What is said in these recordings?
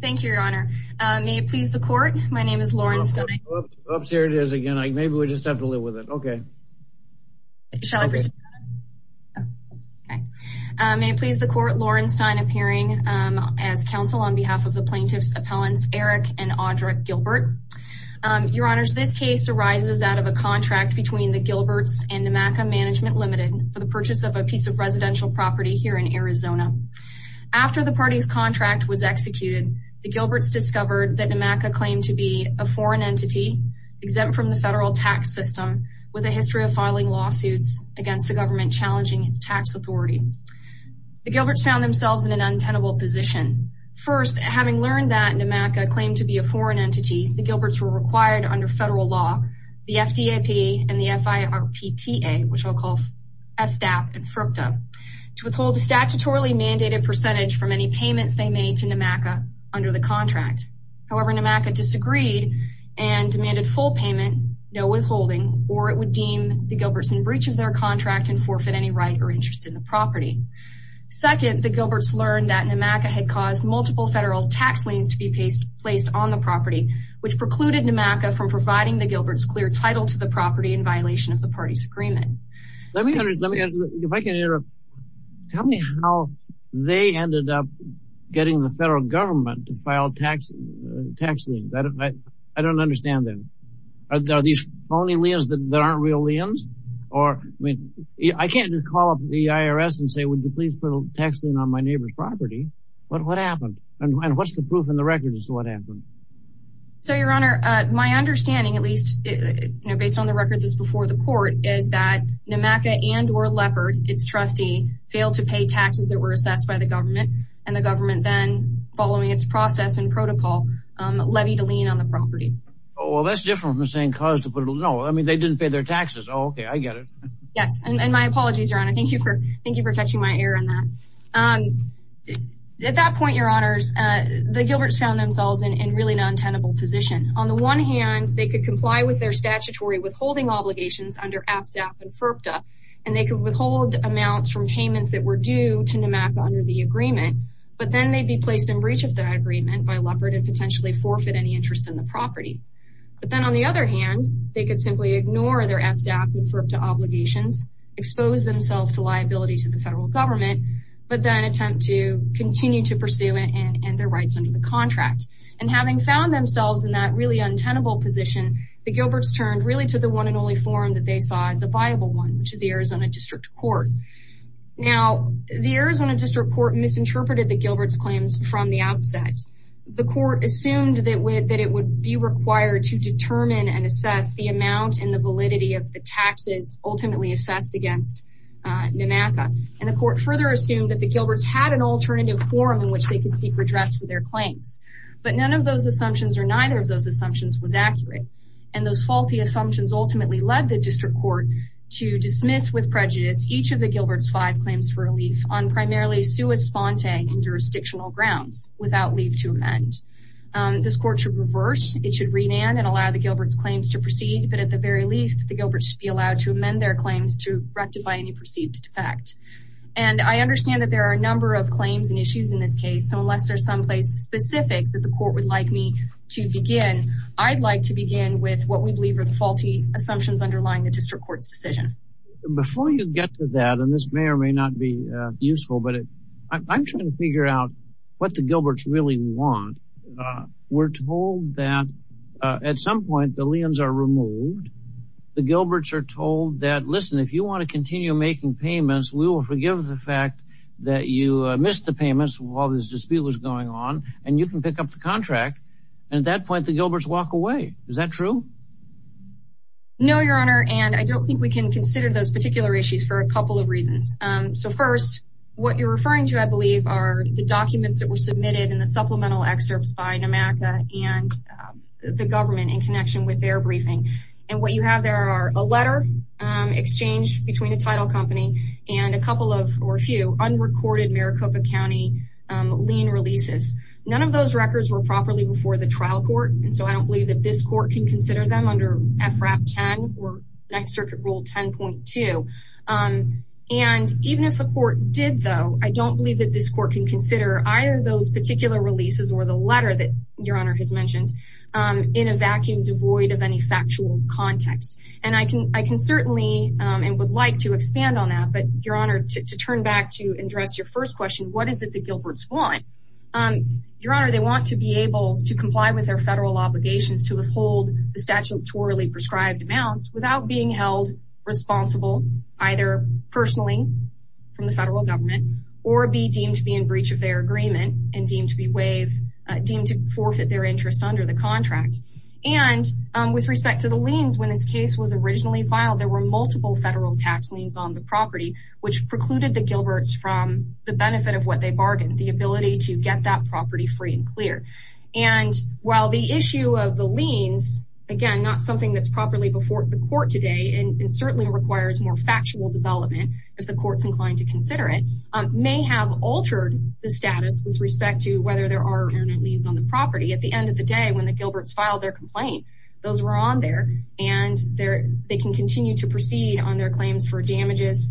Thank you, your honor. May it please the court, my name is Lauren Stein. Oops, here it is again. Maybe we just have to live with it. Okay. May it please the court, Lauren Stein appearing as counsel on behalf of the plaintiff's appellants Eric and Audra Gilbert. Your honors, this case arises out of a contract between the Gilberts and NMACA Management Limited for the purchase of a piece of residential property here in Arizona. After the party's contract was executed, the Gilberts discovered that NMACA claimed to be a foreign entity exempt from the federal tax system, with a history of filing lawsuits against the government challenging its tax authority. The Gilberts found themselves in an untenable position. First, having learned that NMACA claimed to be a foreign entity, the Gilberts were required under federal law, the FDAP and the FIRPTA, which I'll call FDAP and FIRPTA, to withhold a statutorily mandated percentage from any payments they made to NMACA under the contract. However, NMACA disagreed and demanded full payment, no withholding, or it would deem the Gilberts in breach of their contract and forfeit any right or interest in the property. Second, the Gilberts learned that NMACA had caused multiple federal tax liens to be placed on the property, which precluded NMACA from providing the Gilberts clear title to the property. If I can interrupt, tell me how they ended up getting the federal government to file tax liens. I don't understand them. Are these phony liens that aren't real liens? I can't just call up the IRS and say, would you please put a tax lien on my neighbor's property. But what happened? And what's the proof in the records as to what happened? So, your honor, my understanding, at least based on the record that's before the court, is that NMACA and or Leopard, its trustee, failed to pay taxes that were assessed by the government. And the government then, following its process and protocol, levied a lien on the property. Oh, well, that's different from the same cause to put it. No, I mean, they didn't pay their taxes. OK, I get it. Yes. And my apologies, your honor. Thank you for thank you for catching my ear on that. At that point, your honors, the Gilberts found themselves in really an untenable position. On the one hand, they could comply with their statutory withholding obligations under FDAP and FERPTA, and they could withhold amounts from payments that were due to NMACA under the agreement. But then they'd be placed in breach of that agreement by Leopard and potentially forfeit any interest in the property. But then on the other hand, they could simply ignore their FDAP and FERPTA obligations, expose themselves to liability to the federal government, but then attempt to continue to pursue it and their rights under the contract. And having found themselves in that really untenable position, the Gilberts turned really the one and only forum that they saw as a viable one, which is the Arizona District Court. Now, the Arizona District Court misinterpreted the Gilberts' claims from the outset. The court assumed that it would be required to determine and assess the amount and the validity of the taxes ultimately assessed against NMACA. And the court further assumed that the Gilberts had an alternative forum in which they could seek redress for their claims. But none of those assumptions or neither of those assumptions was accurate. And those faulty assumptions ultimately led the district court to dismiss with prejudice each of the Gilberts' five claims for relief on primarily sui sponte and jurisdictional grounds without leave to amend. This court should reverse, it should remand and allow the Gilberts' claims to proceed. But at the very least, the Gilberts should be allowed to amend their claims to rectify any perceived defect. And I understand that there are a number of claims and issues in this case. So unless there's someplace specific that the court would like me to begin, I'd like to begin with what we believe are the faulty assumptions underlying the district court's decision. Before you get to that, and this may or may not be useful, but I'm trying to figure out what the Gilberts really want. We're told that at some point the liens are removed. The Gilberts are told that, listen, if you want to continue making payments, we will forgive the fact that you missed the payments while this dispute was going on and you can pick up the liens. Is that true? No, Your Honor, and I don't think we can consider those particular issues for a couple of reasons. So first, what you're referring to, I believe, are the documents that were submitted in the supplemental excerpts by NMACA and the government in connection with their briefing. And what you have there are a letter exchanged between a title company and a couple of, or a few, unrecorded Maricopa County lien releases. None of those records were properly before the trial court, and so I don't believe that this court can consider them under FRAP 10 or Next Circuit Rule 10.2. And even if the court did, though, I don't believe that this court can consider either those particular releases or the letter that Your Honor has mentioned in a vacuum devoid of any factual context. And I can certainly, and would like to expand on that, but Your Honor, to turn back to address your first question, what is it the Gilberts want? Your Honor, they want to be able to comply with their federal obligations to withhold the statutorily prescribed amounts without being held responsible either personally from the federal government or be deemed to be in breach of their agreement and deemed to be waived, deemed to forfeit their interest under the contract. And with respect to the liens, when this case was originally filed, there were multiple federal tax liens on the property which precluded the Gilberts from the benefit of what they bargained, the ability to get that property free and clear. And while the issue of the liens, again, not something that's properly before the court today, and certainly requires more factual development if the court's inclined to consider it, may have altered the status with respect to whether there are permanent liens on the property. At the end of the day, when the Gilberts filed their complaint, those were on there, and they can continue to proceed on their claims for damages,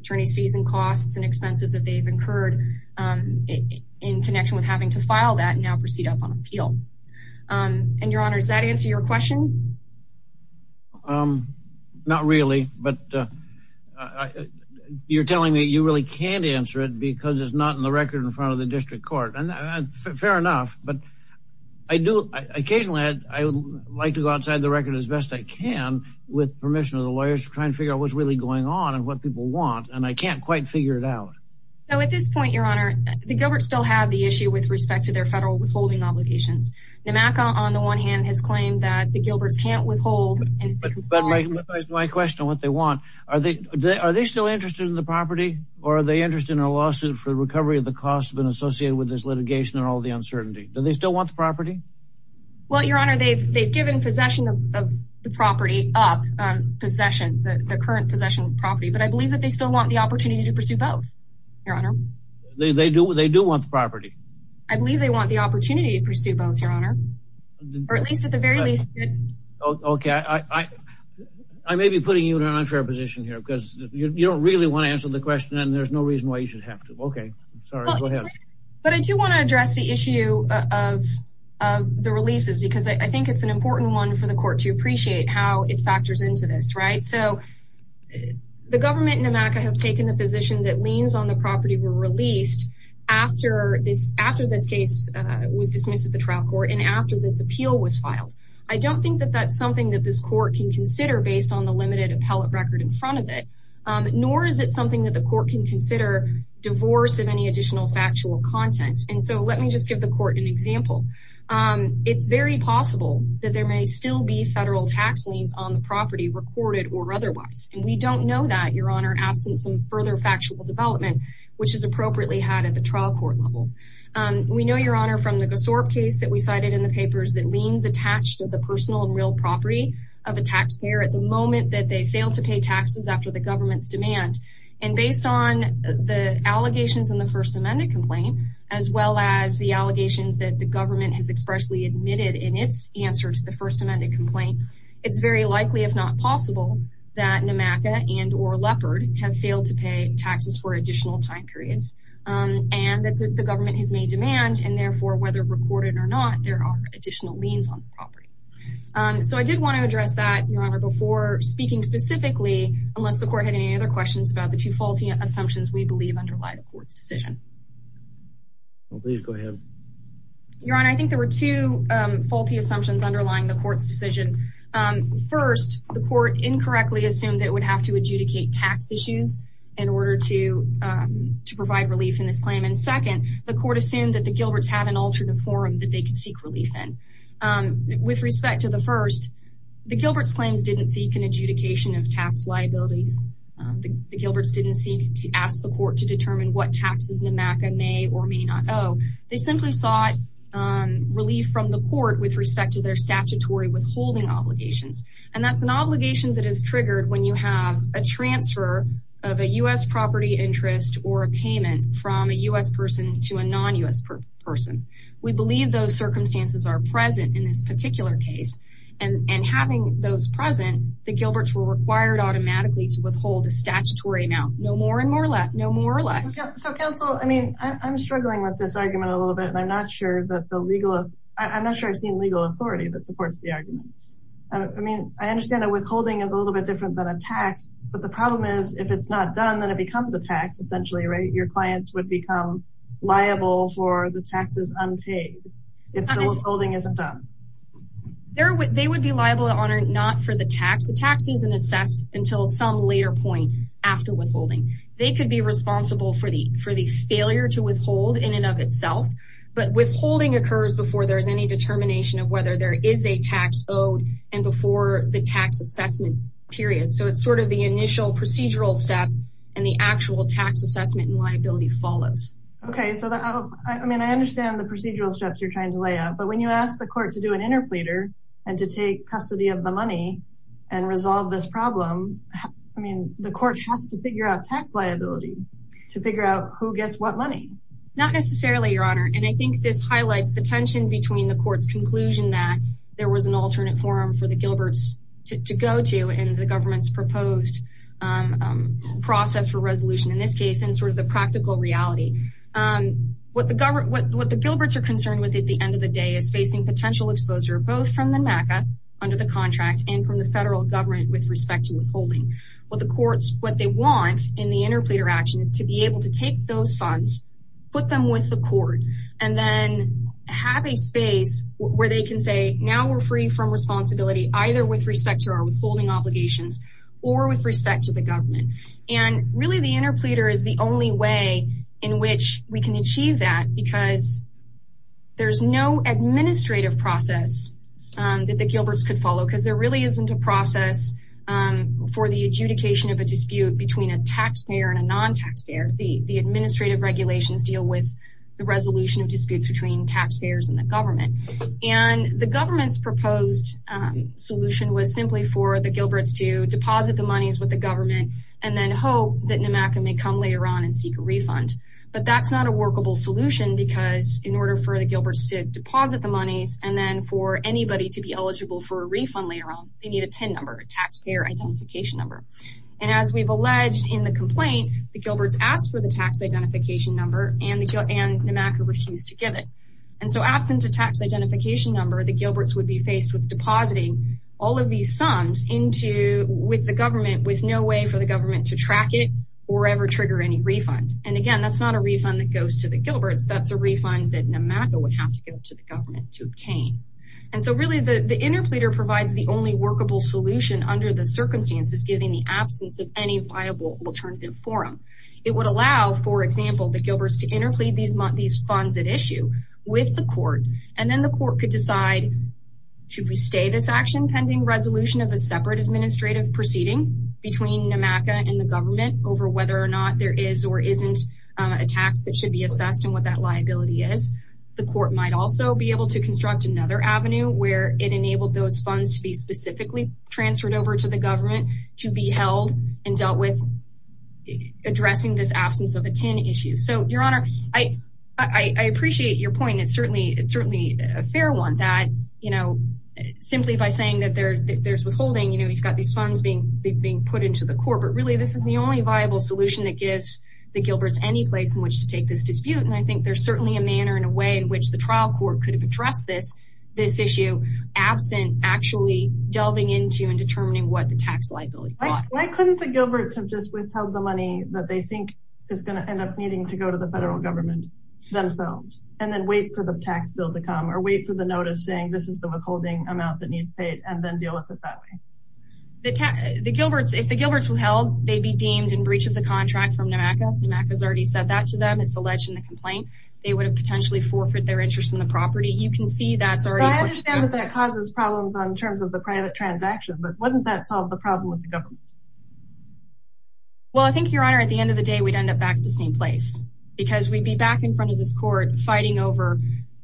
attorney's fees and costs and expenses that they've incurred in connection with having to file that now proceed up on appeal. And Your Honor, does that answer your question? Not really. But you're telling me you really can't answer it because it's not in the record in front of the district court. And fair enough. But I do occasionally, I would like to go outside the record as best I can with permission of the lawyers to try and figure out what's really going on and what people want. And I can't quite figure it out. So at this point, Your Honor, the Gilberts still have the issue with respect to their federal withholding obligations. NMACA, on the one hand, has claimed that the Gilberts can't withhold. But my question, what they want, are they still interested in the property? Or are they interested in a lawsuit for the recovery of the costs associated with this litigation and all the uncertainty? Do they They've given possession of the property up, possession, the current possession of property. But I believe that they still want the opportunity to pursue both, Your Honor. They do want the property. I believe they want the opportunity to pursue both, Your Honor. Or at least at the very least. Okay. I may be putting you in an unfair position here because you don't really want to answer the question and there's no reason why you should have to. Okay. Sorry, go ahead. But I do want to address the issue of the releases because I think it's an important one for the court to appreciate how it factors into this, right? So the government and NMACA have taken the position that liens on the property were released after this case was dismissed at the trial court and after this appeal was filed. I don't think that that's something that this court can consider based on the limited appellate record in front of it, nor is it that the court can consider divorce of any additional factual content. And so let me just give the court an example. It's very possible that there may still be federal tax liens on the property recorded or otherwise. And we don't know that, Your Honor, absent some further factual development, which is appropriately had at the trial court level. We know, Your Honor, from the Gosorp case that we cited in the papers that liens attached to the personal and real property of a based on the allegations in the First Amendment complaint, as well as the allegations that the government has expressly admitted in its answer to the First Amendment complaint, it's very likely, if not possible, that NMACA and or Leopard have failed to pay taxes for additional time periods and that the government has made demand. And therefore, whether recorded or not, there are additional liens on the property. So I did want to address that, Your Honor, before speaking specifically, unless the court had any other questions about the two faulty assumptions we believe underlie the court's decision. Please go ahead. Your Honor, I think there were two faulty assumptions underlying the court's decision. First, the court incorrectly assumed that it would have to adjudicate tax issues in order to provide relief in this claim. And second, the court assumed that the Gilberts had an alternative forum that they could seek relief in. With respect to the first, the Gilberts' claims didn't seek an adjudication of tax liabilities. The Gilberts didn't seek to ask the court to determine what taxes NMACA may or may not owe. They simply sought relief from the court with respect to their statutory withholding obligations. And that's an obligation that is triggered when you have a transfer of a U.S. property interest or a payment from a U.S. person to a non-U.S. person. We believe those circumstances are present in this particular case. And having those present, the Gilberts were required automatically to withhold a statutory amount. No more and no less. So counsel, I mean, I'm struggling with this argument a little bit, and I'm not sure that the legal, I'm not sure I've seen legal authority that supports the argument. I mean, I understand that withholding is a little bit different than a tax, but the problem is if it's not done, then it becomes a tax, essentially, right? Your clients would become liable for the taxes unpaid. If the withholding isn't done. They would be liable to honor not for the tax. The tax isn't assessed until some later point after withholding. They could be responsible for the failure to withhold in and of itself, but withholding occurs before there's any determination of whether there is a tax owed and before the tax assessment period. So it's sort of the initial procedural step and the actual tax assessment and liability follows. Okay, so I mean, I understand the you're trying to lay out, but when you ask the court to do an interpleader and to take custody of the money and resolve this problem, I mean, the court has to figure out tax liability to figure out who gets what money. Not necessarily, your honor. And I think this highlights the tension between the court's conclusion that there was an alternate forum for the Gilberts to go to and the government's proposed process for resolution in this case, and sort of the end of the day is facing potential exposure, both from the NACA under the contract and from the federal government with respect to withholding. What the courts, what they want in the interpleader action is to be able to take those funds, put them with the court, and then have a space where they can say, now we're free from responsibility, either with respect to our withholding obligations or with respect to the government. And really the interpleader is the only way in which we can achieve that because there's no administrative process that the Gilberts could follow, because there really isn't a process for the adjudication of a dispute between a taxpayer and a non-taxpayer. The administrative regulations deal with the resolution of disputes between taxpayers and the government. And the government's proposed solution was simply for the Gilberts to deposit the monies with the government and then hope that NMACA may come later on and seek a refund. But that's not a workable solution because in order for the Gilberts to deposit the monies and then for anybody to be eligible for a refund later on, they need a TIN number, a taxpayer identification number. And as we've alleged in the complaint, the Gilberts asked for the tax identification number and NMACA refused to give it. And so absent a tax identification number, the Gilberts would be faced with depositing all of these sums with the government with no way for the government to track it or ever trigger any refund. And again, that's not a refund that goes to the Gilberts. That's a refund that NMACA would have to give to the government to obtain. And so really the interpleader provides the only workable solution under the circumstances given the absence of any viable alternative forum. It would allow, for example, the Gilberts to interplead these funds at issue with the court and then the court could decide, should we stay this action pending resolution of a separate administrative proceeding between NMACA and the government over whether or not there is or isn't a tax that should be assessed and what that liability is. The court might also be able to construct another avenue where it enabled those funds to be specifically transferred over to the government to be held and dealt with addressing this absence of a TIN issue. So your honor, I appreciate your point. It's certainly a fair one that, you know, simply by saying that there's withholding, you've got these funds being put into the court, but really this is the only viable solution that gives the Gilberts any place in which to take this dispute. And I think there's certainly a manner in a way in which the trial court could have addressed this issue absent actually delving into and determining what the tax liability is. Why couldn't the Gilberts have just withheld the money that they think is going to end up needing to go to the federal government themselves and then wait for the tax bill to come or wait for the notice saying this is the withholding amount and then deal with it that way? If the Gilberts withheld, they'd be deemed in breach of the contract from NMACA. NMACA has already said that to them. It's alleged in the complaint. They would have potentially forfeited their interest in the property. You can see that's already... I understand that that causes problems in terms of the private transaction, but wouldn't that solve the problem with the government? Well, I think your honor, at the end of the day, we'd end up back at the same place because we'd be back in front of this court fighting over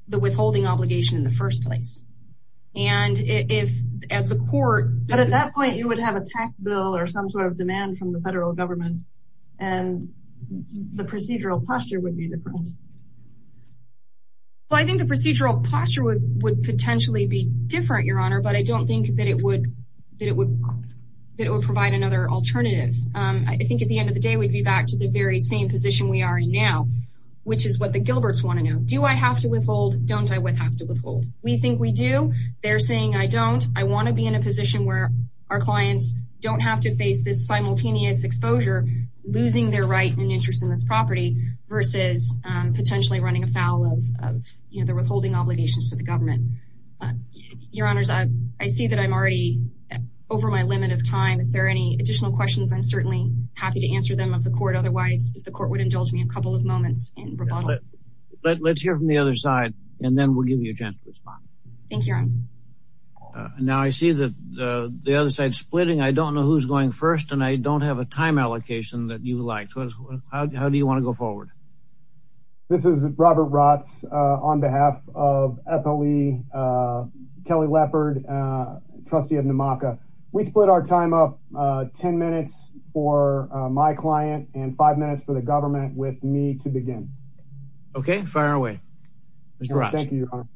the withholding obligation in the first place. And if as the court... But at that point, you would have a tax bill or some sort of demand from the federal government and the procedural posture would be different. Well, I think the procedural posture would potentially be different, your honor, but I don't think that it would provide another alternative. I think at the end of the day, we'd be back to the very same position we are in now, which is what the Gilberts want to know. Do I have to withhold? Don't I have to withhold? We think we do. They're saying, I don't. I want to be in a position where our clients don't have to face this simultaneous exposure, losing their right and interest in this property versus potentially running afoul of the withholding obligations to the government. Your honors, I see that I'm already over my limit of time. If there are any additional questions, I'm certainly happy to answer them of the court. Otherwise, if the court would indulge me a couple of moments in rebuttal. Let's hear from the other side and then we'll give you a chance to respond. Thank you, your honor. Now I see that the other side is splitting. I don't know who's going first and I don't have a time allocation that you liked. How do you want to go forward? This is Robert Rotz on behalf of FLE, Kelly Leppard, trustee of NMACA. We split our time up 10 minutes for my client and five minutes for the government with me to begin. Okay, fire away. Thank you, your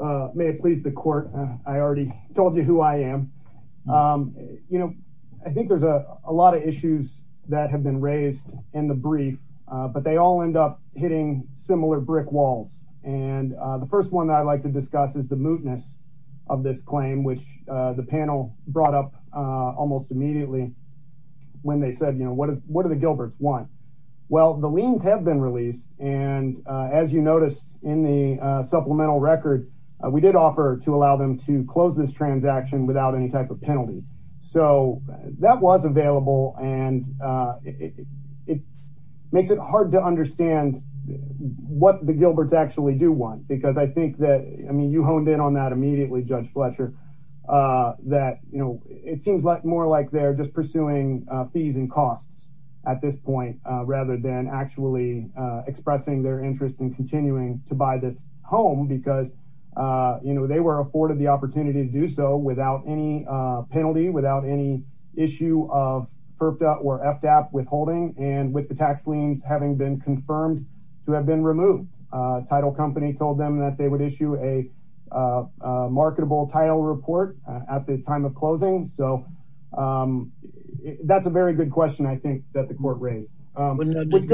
honor. May it please the court. I already told you who I am. I think there's a lot of issues that have been raised in the brief, but they all end up hitting similar brick walls. And the first one that I'd like to discuss is the mootness of this claim, which the panel brought up almost immediately when they said, you know, what do the Gilbert's want? Well, the liens have been released. And as you noticed in the supplemental record, we did offer to allow them to close this transaction without any type of penalty. So that was available and it makes it hard to understand what the Gilbert's actually do want, because I think that, I mean, you honed in on that immediately, Judge Fletcher, that, you know, it seems like more like they're just pursuing fees and costs at this point, rather than actually expressing their interest in continuing to buy this home because, you know, they were afforded the opportunity to do so without any penalty, without any issue of FERPDA or FDAP withholding and with the tax liens having been confirmed to have been removed. Title company told them that they would issue a marketable title report at the time of closing. So that's a very good question, I think, that the court raised. But we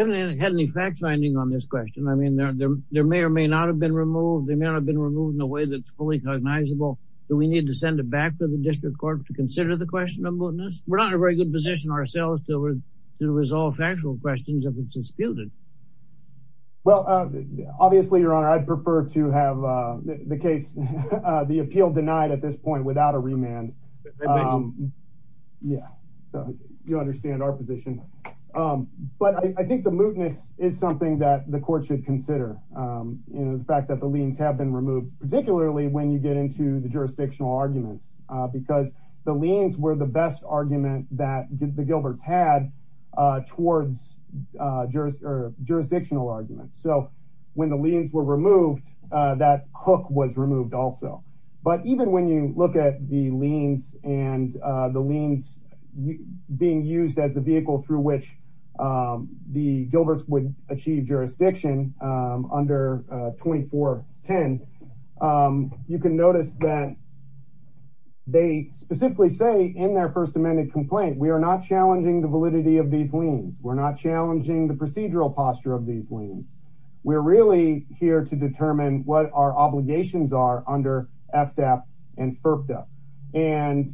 haven't had any fact finding on this question. I mean, there may or may not have been removed. They may not have been removed in a way that's fully cognizable. Do we need to send it back to the district court to consider the question of mootness? We're not in a very good position ourselves to resolve factual questions if it's disputed. Well, obviously, your honor, I'd prefer to have the case, the appeal denied at this point without a remand. Yeah, so you understand our position. But I think the mootness is something that the court should consider. You know, the fact that the liens have been removed, particularly when you get into the jurisdictional arguments, because the liens were the best argument that the Gilbert's had towards jurisdictional arguments. So when the liens were removed, that hook was removed also. But even when you look at the liens and the liens being used as the vehicle through which the Gilbert's would achieve jurisdiction under 2410, you can notice that they specifically say in their first amended complaint, we are not challenging the validity of these liens. We're not challenging the procedural posture of these liens. We're really here to determine what our obligations are under FDAP and FERPTA. And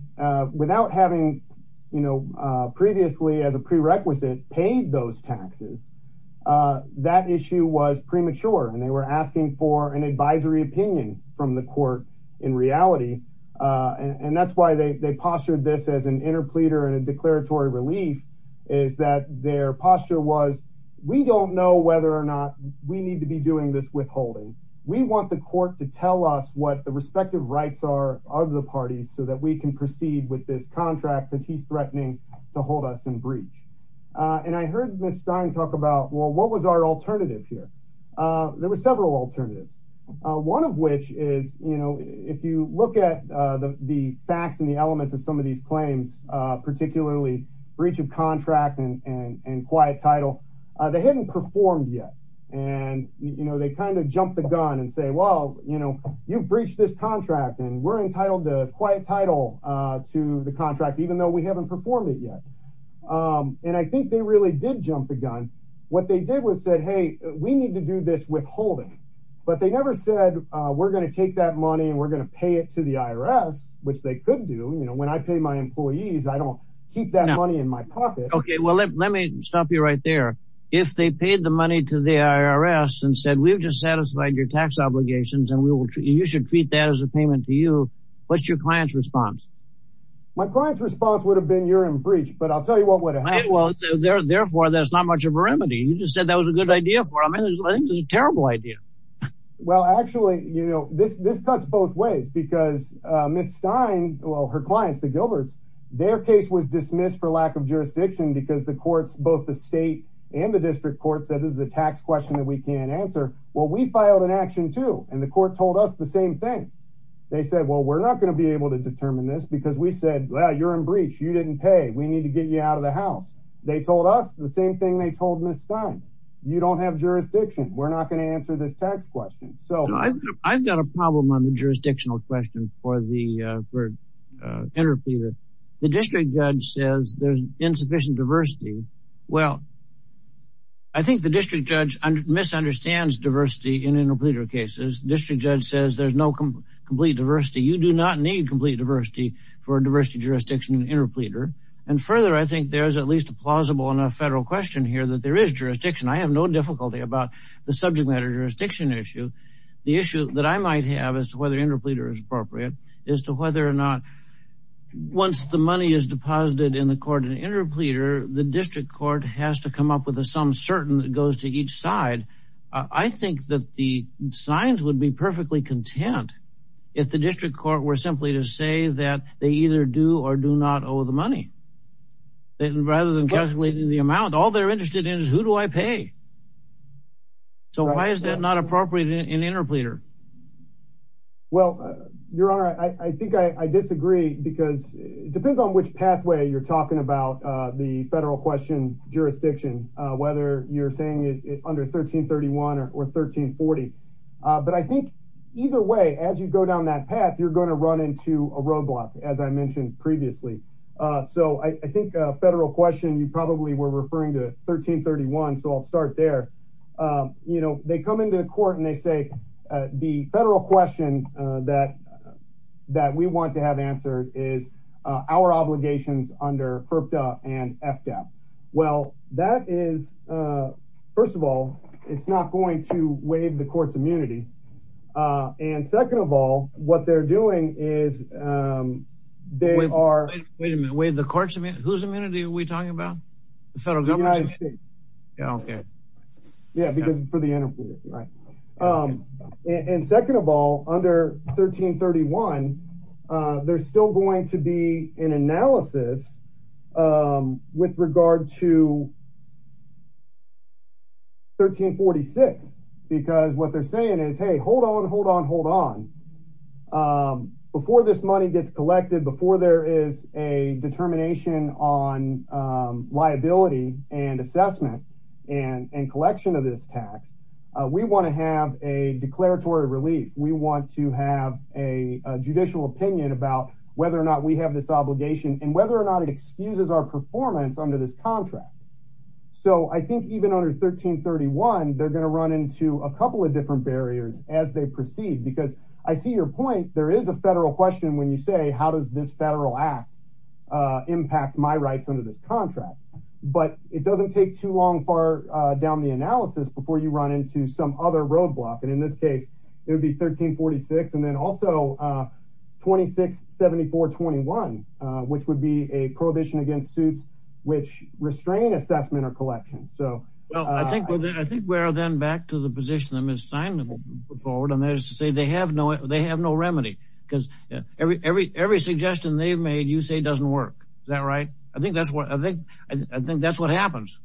without having, you know, previously as a prerequisite paid those taxes, that issue was premature. And they were asking for an advisory opinion from the court in reality. And that's why they postured this as an interpleader and a declaratory relief is that their posture was, we don't know whether or not we need to be doing this withholding. We want the court to tell us what the respective rights are of the parties so that we can proceed with this contract because he's threatening to hold us in breach. And I heard Ms. Stein talk about, well, what was our alternative here? There were several alternatives. One of which is, you know, if you look at the facts and the elements of some of these claims, particularly breach of contract and quiet title, they hadn't performed yet. And, you know, they kind of jumped the gun and say, well, you know, you've breached this contract and we're entitled to quiet title to the contract, even though we haven't performed it yet. And I think they really did jump the gun. What they did was said, hey, we need to do this withholding, but they never said we're going to take that money and we're going to pay it to the IRS, which they could do. You know, when I pay my employees, I don't keep that money in my pocket. Okay. Well, let me stop you right there. If they satisfied your tax obligations and you should treat that as a payment to you, what's your client's response? My client's response would have been you're in breach, but I'll tell you what would have happened. Well, therefore there's not much of a remedy. You just said that was a good idea for them. I think it was a terrible idea. Well, actually, you know, this cuts both ways because Ms. Stein, well, her clients, the Gilberts, their case was dismissed for lack of jurisdiction because the courts, both the state and the district court said, this is a tax question that we can't answer. Well, we filed an action too. And the court told us the same thing. They said, well, we're not going to be able to determine this because we said, well, you're in breach. You didn't pay. We need to get you out of the house. They told us the same thing they told Ms. Stein. You don't have jurisdiction. We're not going to answer this tax question. So I've got a problem on the jurisdictional question for the, uh, for, uh, interpreter. The district judge says there's insufficient diversity. Well, I think the district judge misunderstands diversity in interpreter cases. District judge says there's no complete diversity. You do not need complete diversity for diversity jurisdiction interpreter. And further, I think there's at least a plausible enough federal question here that there is jurisdiction. I have no difficulty about the subject matter jurisdiction issue. The issue that I might have as to whether interpreter is is to whether or not once the money is deposited in the court and interpreter, the district court has to come up with a, some certain that goes to each side. I think that the signs would be perfectly content if the district court were simply to say that they either do or do not owe the money that rather than calculating the amount, all they're interested in is who do I pay? So why is that not appropriate in interpreter? Well, your honor, I think I disagree because it depends on which pathway you're talking about, uh, the federal question jurisdiction, uh, whether you're saying it under 1331 or 1340. Uh, but I think either way, as you go down that path, you're going to run into a roadblock as I mentioned previously. Uh, so I think a federal question, you probably were referring to 1331. So I'll start there. Um, you know, they come into the court and they say, uh, the federal question, uh, that, uh, that we want to have answered is, uh, our obligations under FERPDA and FDAP. Well, that is, uh, first of all, it's not going to waive the court's immunity. Uh, and second of all, what they're doing is, um, they are, wait a minute, wait, the court's whose immunity are we talking about? The federal government. Yeah. Okay. Yeah. Because for the interpreter, right. Um, and second of all, under 1331, uh, there's still going to be an analysis, um, with regard to 1346, because what they're saying is, Hey, hold on, hold on, hold on. Um, before this money gets collected before there is a determination on, um, liability and assessment and, and collection of this tax, uh, we want to have a declaratory relief. We want to have a judicial opinion about whether or not we have this obligation and whether or not it excuses our performance under this contract. So I think even under 1331, they're going to run into a couple of different barriers as they proceed, because I see your point. There is a federal question when you say, how does this federal act, uh, impact my rights under this contract, but it doesn't take too long for, uh, down the analysis before you run into some other roadblock. And in this case, it would be 1346 and then also, uh, 26, 74, 21, uh, which would be a prohibition against suits, which restrain assessment or collection. So, well, I think, I think we're then back to the position that Ms. Steinman put forward. And they say they have no, they have no remedy because every, every, every suggestion they've made, you say doesn't work. Is that right? I think that's what I think. I think that's what happens.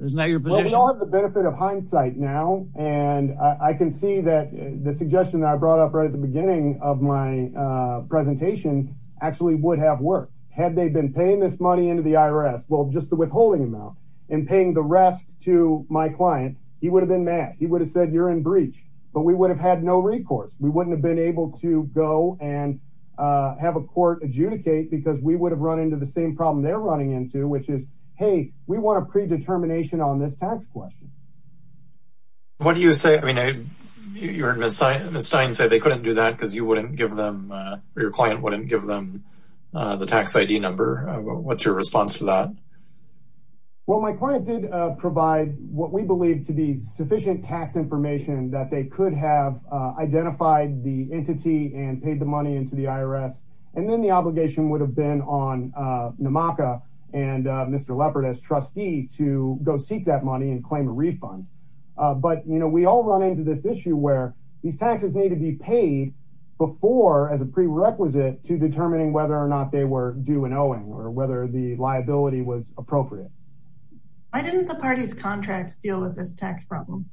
Isn't that your position? Well, we all have the benefit of hindsight now. And I can see that the suggestion that I brought up right at the beginning of my, uh, presentation actually would have worked. Had they been paying this money into the IRS, well, just the withholding amount and paying the rest to my client, he would have been mad. He would have said you're in breach, but we would have had no recourse. We wouldn't have been able to go and, uh, have a court adjudicate because we would have run into the same problem they're running into, which is, hey, we want a predetermination on this tax question. What do you say? I mean, you heard Ms. Stein say they couldn't do that because you wouldn't give them, uh, your client wouldn't give them, uh, the tax ID number. What's your response to that? Well, my client did, uh, provide what we believe to be sufficient tax information that they could have, uh, identified the entity and paid the money into the IRS. And then the obligation would have been on, uh, Namaka and, uh, Mr. Leopard as trustee to go seek that money and claim a refund. Uh, but, you know, we all run into this issue where these taxes need to be paid before as a prerequisite to appropriate. Why didn't the party's contract deal with this tax problem?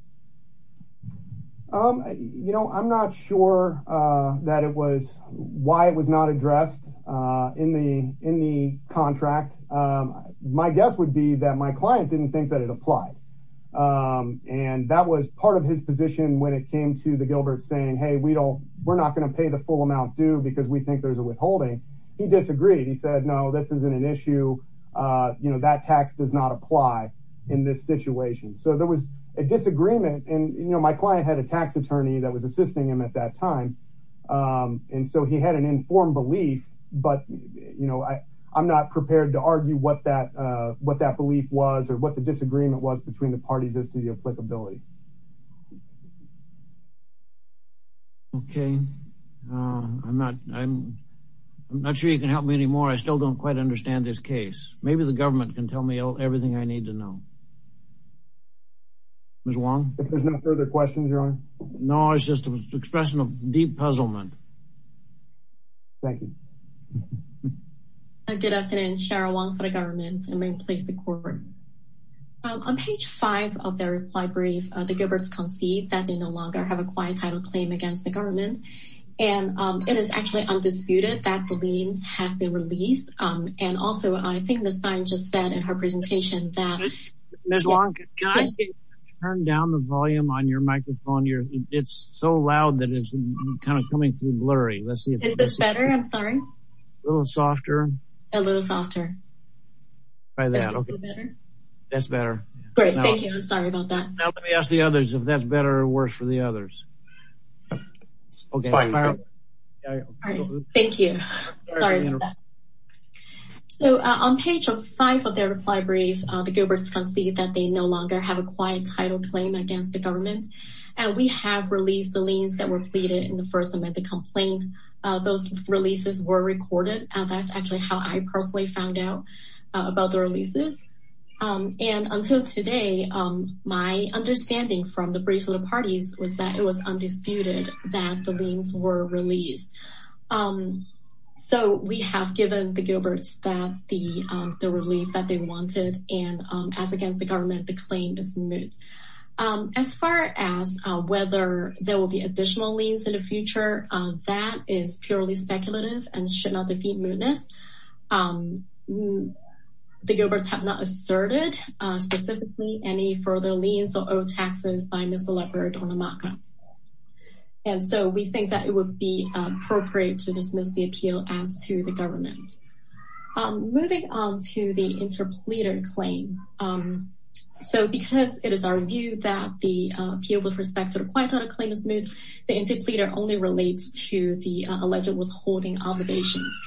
Um, you know, I'm not sure, uh, that it was why it was not addressed, uh, in the, in the contract. Um, my guess would be that my client didn't think that it applied. Um, and that was part of his position when it came to the Gilbert saying, Hey, we don't, we're not going to pay the full amount due because we think there's a withholding. He disagreed. He said, no, this isn't an issue. Uh, you know, that tax does not apply in this situation. So there was a disagreement and, you know, my client had a tax attorney that was assisting him at that time. Um, and so he had an informed belief, but, you know, I, I'm not prepared to argue what that, uh, what that belief was or what the disagreement was between the parties as to the applicability. Okay. Uh, I'm not, I'm not sure you can help me anymore. I still don't quite understand this case. Maybe the government can tell me everything I need to know. Ms. Wang. If there's no further questions, Your Honor. No, it's just an expression of deep puzzlement. Thank you. Good afternoon, Cheryl Wang for the government and main place, the court. On page five of their reply brief, the Gilbert's concede that they no longer have a quiet title claim against the government. And, um, it is actually undisputed that the liens have been released. Um, and also I think the sign just said in her presentation that Turn down the volume on your microphone. It's so loud that it's kind of coming through blurry. Let's see if it's better. I'm sorry. A little softer, a little softer. Try that. Okay. That's better. Great. Thank you. I'm sorry about that. Now let me ask the others if that's better or worse for the others. Fine. All right. Thank you. So on page five of their reply brief, the Gilbert's concede that they no longer have a quiet title claim against the government. And we have released the liens that were pleaded in the first amendment complaint. Those releases were recorded. And that's actually how I personally found out about the releases. Um, and until today, um, my understanding from the brief little parties was that it was undisputed that the liens were released. Um, so we have given the Gilbert's that the, um, the relief that they wanted and, um, as against the government, the claim is moot. Um, as far as, uh, whether there will be additional liens in the future, that is purely speculative and should not defeat mootness. Um, the Gilbert's have not asserted, uh, specifically any further liens or old taxes by Mr. Labrador on the mock-up. And so we think that it would be appropriate to dismiss the appeal as to the government. Um, moving on to the interpleader claim. Um, so because it is our view that the appeal with respect to the quiet title claim is moot, the interpleader only relates to the alleged withholding obligations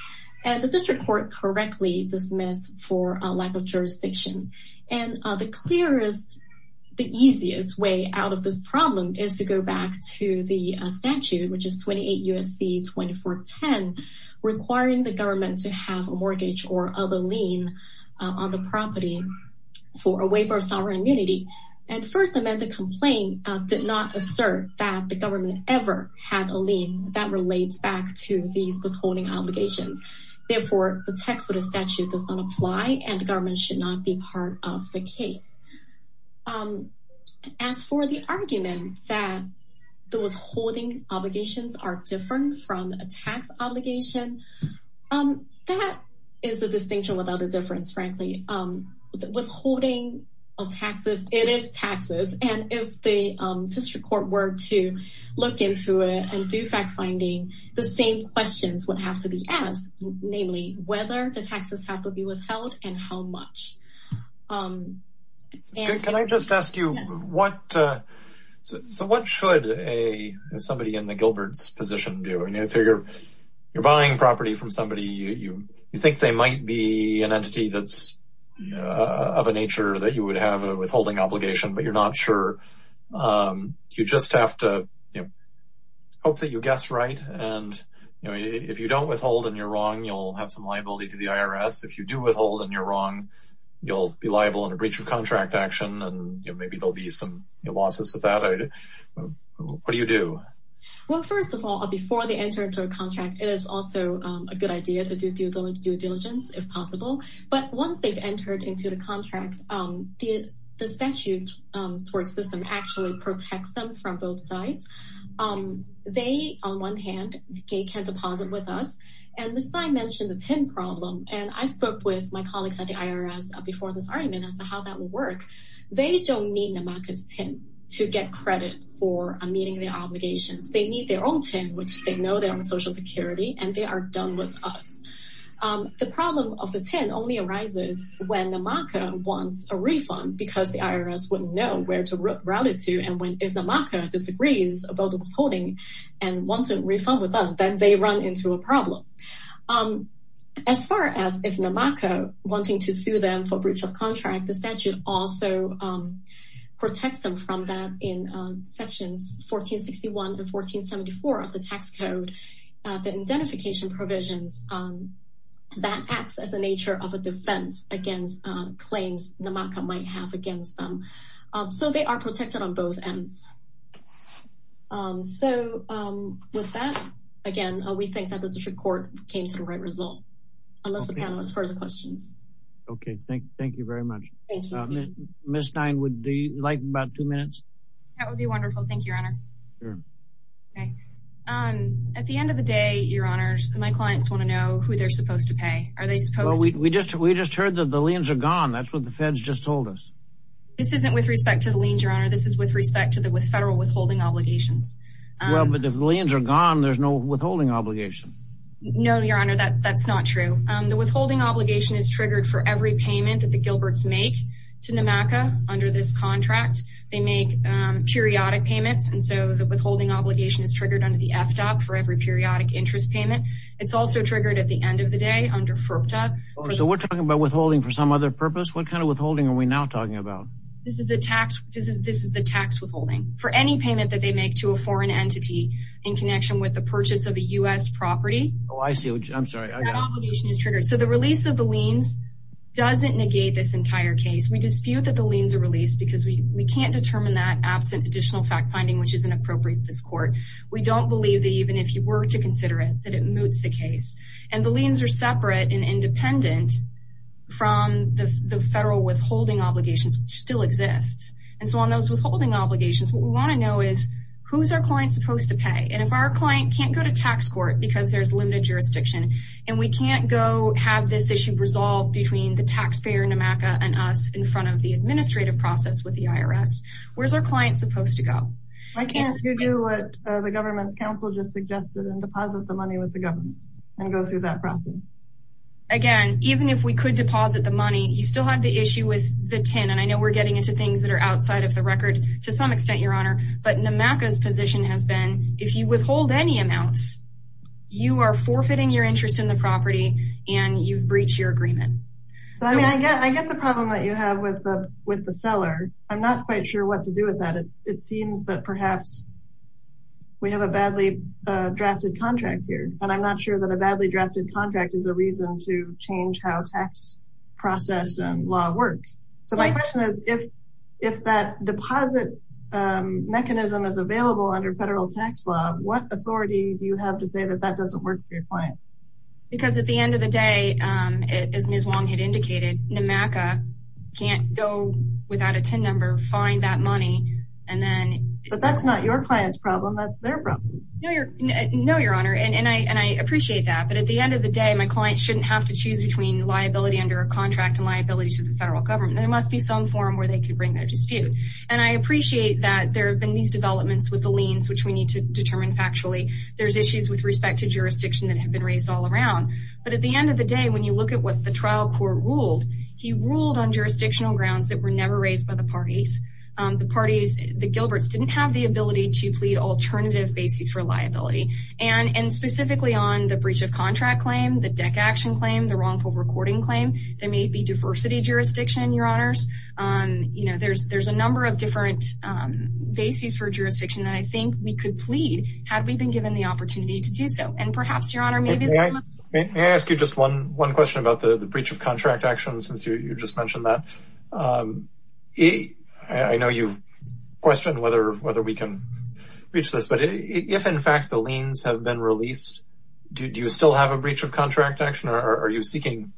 and the district court correctly dismissed for a lack of jurisdiction. And, uh, the clearest, the easiest way out of this problem is to go back to the statute, which is 28 USC 2410, requiring the government to have a mortgage or other lien on the property for a waiver of sovereign immunity. And first amendment complaint did not assert that the government ever had a obligations. Therefore the text of the statute does not apply and the government should not be part of the case. Um, as for the argument that the withholding obligations are different from a tax obligation, um, that is the distinction without a difference, frankly, um, withholding of taxes, it is taxes. And if they, um, district court were to look into it and do fact finding the same questions would have to be asked, namely whether the taxes have to be withheld and how much, um, and can I just ask you what, uh, so what should a, somebody in the Gilbert's position do? And so you're, you're buying property from somebody. You, you, you think they might be an entity that's of a nature that you would have a withholding obligation, but you're not sure. Um, you just have to hope that you guessed right. And if you don't withhold and you're wrong, you'll have some liability to the IRS. If you do withhold and you're wrong, you'll be liable in a breach of contract action. And maybe there'll be some losses with that. What do you do? Well, first of all, before they entered into a contract, it is also a good idea to do due diligence if possible. But once they've entered into the contract, um, the statute towards system actually protects them from both sides. Um, they, on one hand, okay, can deposit with us. And this time mentioned the 10 problem. And I spoke with my colleagues at the IRS before this argument as to how that will work. They don't need the market's 10 to get credit for meeting their obligations. They need their own 10, which they know they're on social security and they are with us. Um, the problem of the 10 only arises when the marker wants a refund because the IRS wouldn't know where to route it to. And when, if the marker disagrees about the withholding and want to refund with us, then they run into a problem. Um, as far as if the marker wanting to sue them for breach of contract, the statute also, um, protect them from that in sections 1461 and 1474 of the tax code, uh, the identification provisions, um, that acts as a nature of a defense against, uh, claims the market might have against them. Um, so they are protected on both ends. Um, so, um, with that, again, we think that the district court came to the right result, unless the panel has further questions. Okay. Thank, thank you very much. Ms. Stein, would you like about two minutes? That would be wonderful. Thank you, your honor. Okay. Um, at the end of the day, your honors, my clients want to know who they're supposed to pay. Are they supposed to? We just, we just heard that the liens are gone. That's what the feds just told us. This isn't with respect to the liens, your honor. This is with respect to the, with federal withholding obligations. Well, but if the liens are gone, there's no withholding obligation. No, your honor, that that's not true. Um, the withholding is triggered for every payment that the Gilbert's make to NMACA under this contract. They make, um, periodic payments. And so the withholding obligation is triggered under the FDAP for every periodic interest payment. It's also triggered at the end of the day under FERPTA. So we're talking about withholding for some other purpose. What kind of withholding are we now talking about? This is the tax. This is, this is the tax withholding for any payment that they make to a foreign entity in connection with the purchase of a U S property. Oh, I see. I'm So the release of the liens doesn't negate this entire case. We dispute that the liens are released because we can't determine that absent additional fact finding, which isn't appropriate to this court. We don't believe that even if you were to consider it, that it moots the case and the liens are separate and independent from the federal withholding obligations still exists. And so on those withholding obligations, what we want to know is who's our client supposed to pay. And if our client can't go to tax court because there's limited jurisdiction and we can't go this issue resolved between the taxpayer NMACA and us in front of the administrative process with the IRS, where's our client supposed to go? I can't do what the government's council just suggested and deposit the money with the government and go through that process. Again, even if we could deposit the money, you still have the issue with the TIN. And I know we're getting into things that are outside of the record to some extent, your honor, but NMACA's position has been if you withhold any amounts, you are forfeiting your interest in the property and you've breached your agreement. So I mean, I get, I get the problem that you have with the, with the seller. I'm not quite sure what to do with that. It seems that perhaps we have a badly drafted contract here, but I'm not sure that a badly drafted contract is a reason to change how tax process and law works. So my question is if, if that deposit mechanism is available under federal tax law, what authority do you have to say that that because at the end of the day, as Ms. Wong had indicated, NMACA can't go without a TIN number, find that money, and then, but that's not your client's problem. That's their problem. No, your, no, your honor. And I, and I appreciate that, but at the end of the day, my client shouldn't have to choose between liability under a contract and liability to the federal government. There must be some forum where they could bring their dispute. And I appreciate that there have been these developments with the liens, which we need to determine factually there's issues with respect to jurisdiction that have been raised all around. But at the end of the day, when you look at what the trial court ruled, he ruled on jurisdictional grounds that were never raised by the parties. The parties, the Gilberts didn't have the ability to plead alternative bases for liability. And, and specifically on the breach of contract claim, the deck action claim, the wrongful recording claim, there may be diversity jurisdiction, your honors. You know, there's, there's a number of different bases for jurisdiction that I think we could plead had we been given the opportunity to do so. And perhaps your honor, maybe may I ask you just one, one question about the breach of contract action. Since you just mentioned that, um, he, I know you question whether, whether we can reach this, but if in fact the liens have been released, do you still have a breach of contract action or are you seeking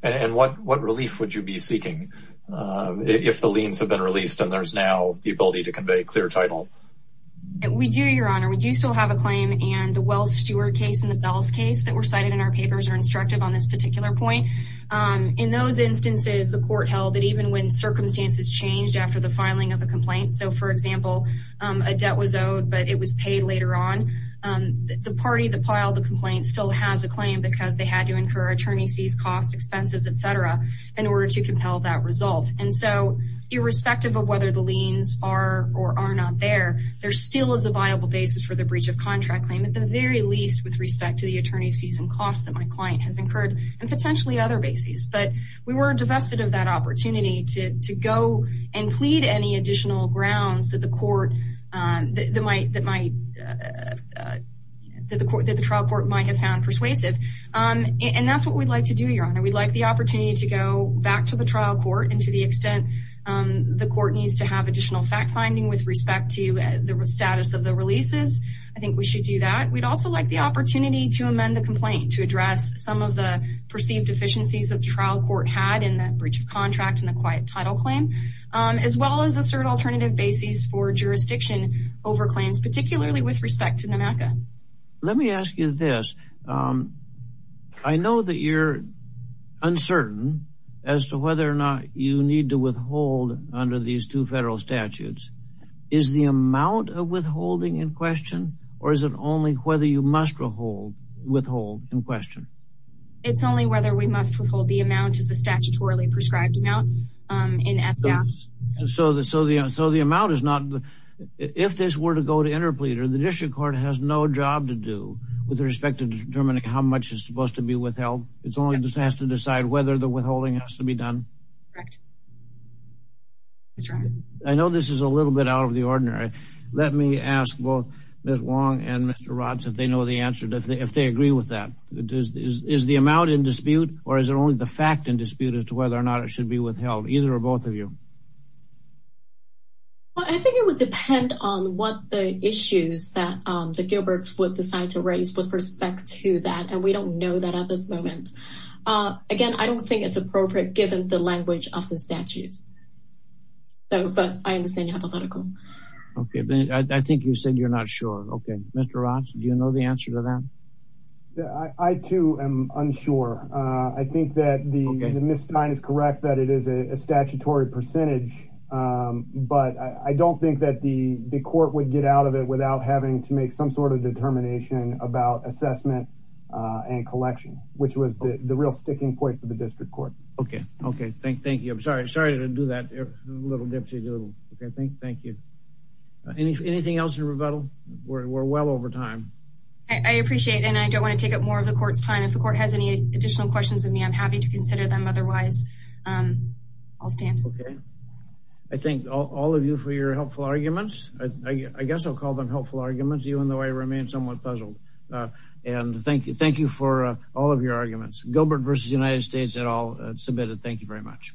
and what, what relief would you be seeking? Um, if the liens have been released and there's now the ability to convey clear title. We do, your honor, we do still have a claim and the Wells Steward case and the bells case that were cited in our papers are instructive on this particular point. Um, in those instances, the court held that even when circumstances changed after the filing of a complaint. So for example, um, a debt was owed, but it was paid later on, um, the party, the pile, the complaint still has a claim because they had to incur attorney fees, costs, expenses, et cetera, in order to compel that result. And so irrespective of whether the liens are or are not there, there still is a viable basis for the breach of contract claim. At the very least with respect to the attorney's fees and costs that my client has incurred and potentially other bases. But we were divested of that opportunity to go and plead any additional grounds that the court, um, that might, that might, uh, uh, that the court, that the trial court might have found persuasive. Um, and that's what we'd like to do, your honor. We'd like the additional fact finding with respect to the status of the releases. I think we should do that. We'd also like the opportunity to amend the complaint to address some of the perceived deficiencies of trial court had in that breach of contract and the quiet title claim, um, as well as assert alternative bases for jurisdiction over claims, particularly with respect to NMACA. Let me ask you this. Um, I know that you're uncertain as to whether or not you need to withhold statutes. Is the amount of withholding in question or is it only whether you must withhold withhold in question? It's only whether we must withhold the amount as a statutorily prescribed amount, um, in FDAP. So the, so the, so the amount is not, if this were to go to interpleader, the district court has no job to do with respect to determining how much is supposed to be withheld. It's only just has to decide whether the withholding has to be done. Correct. That's right. I know this is a little bit out of the ordinary. Let me ask both Ms. Wong and Mr. Rods if they know the answer, if they, if they agree with that, it is, is, is the amount in dispute or is it only the fact in dispute as to whether or not it should be withheld, either or both of you? Well, I think it would depend on what the issues that, um, the Gilberts would decide to raise with respect to that. And we don't know that at this moment. Uh, again, I don't think it's appropriate given the language of the statute. So, but I understand you have a medical. Okay. I think you said you're not sure. Okay. Mr. Rods, do you know the answer to that? I too am unsure. Uh, I think that the, the Ms. Stein is correct that it is a statutory percentage. Um, but I don't think that the, the court would get out of it without having to make some sort of determination about assessment, uh, and collection, which was the real sticking point for the district court. Okay. Okay. Thank, thank you. I'm sorry. Sorry to do that. A little dipsy. Okay. Thank, thank you. Anything else in rebuttal? We're, we're well over time. I appreciate it. And I don't want to take up more of the court's time. If the court has any additional questions of me, I'm happy to consider them. Otherwise, um, I'll stand. Okay. I thank all of you for your helpful arguments. I guess I'll call them helpful arguments, even though I remain somewhat puzzled. Uh, and thank you. Thank you for all of your arguments. Gilbert versus United States et al. Submitted. Thank you very much.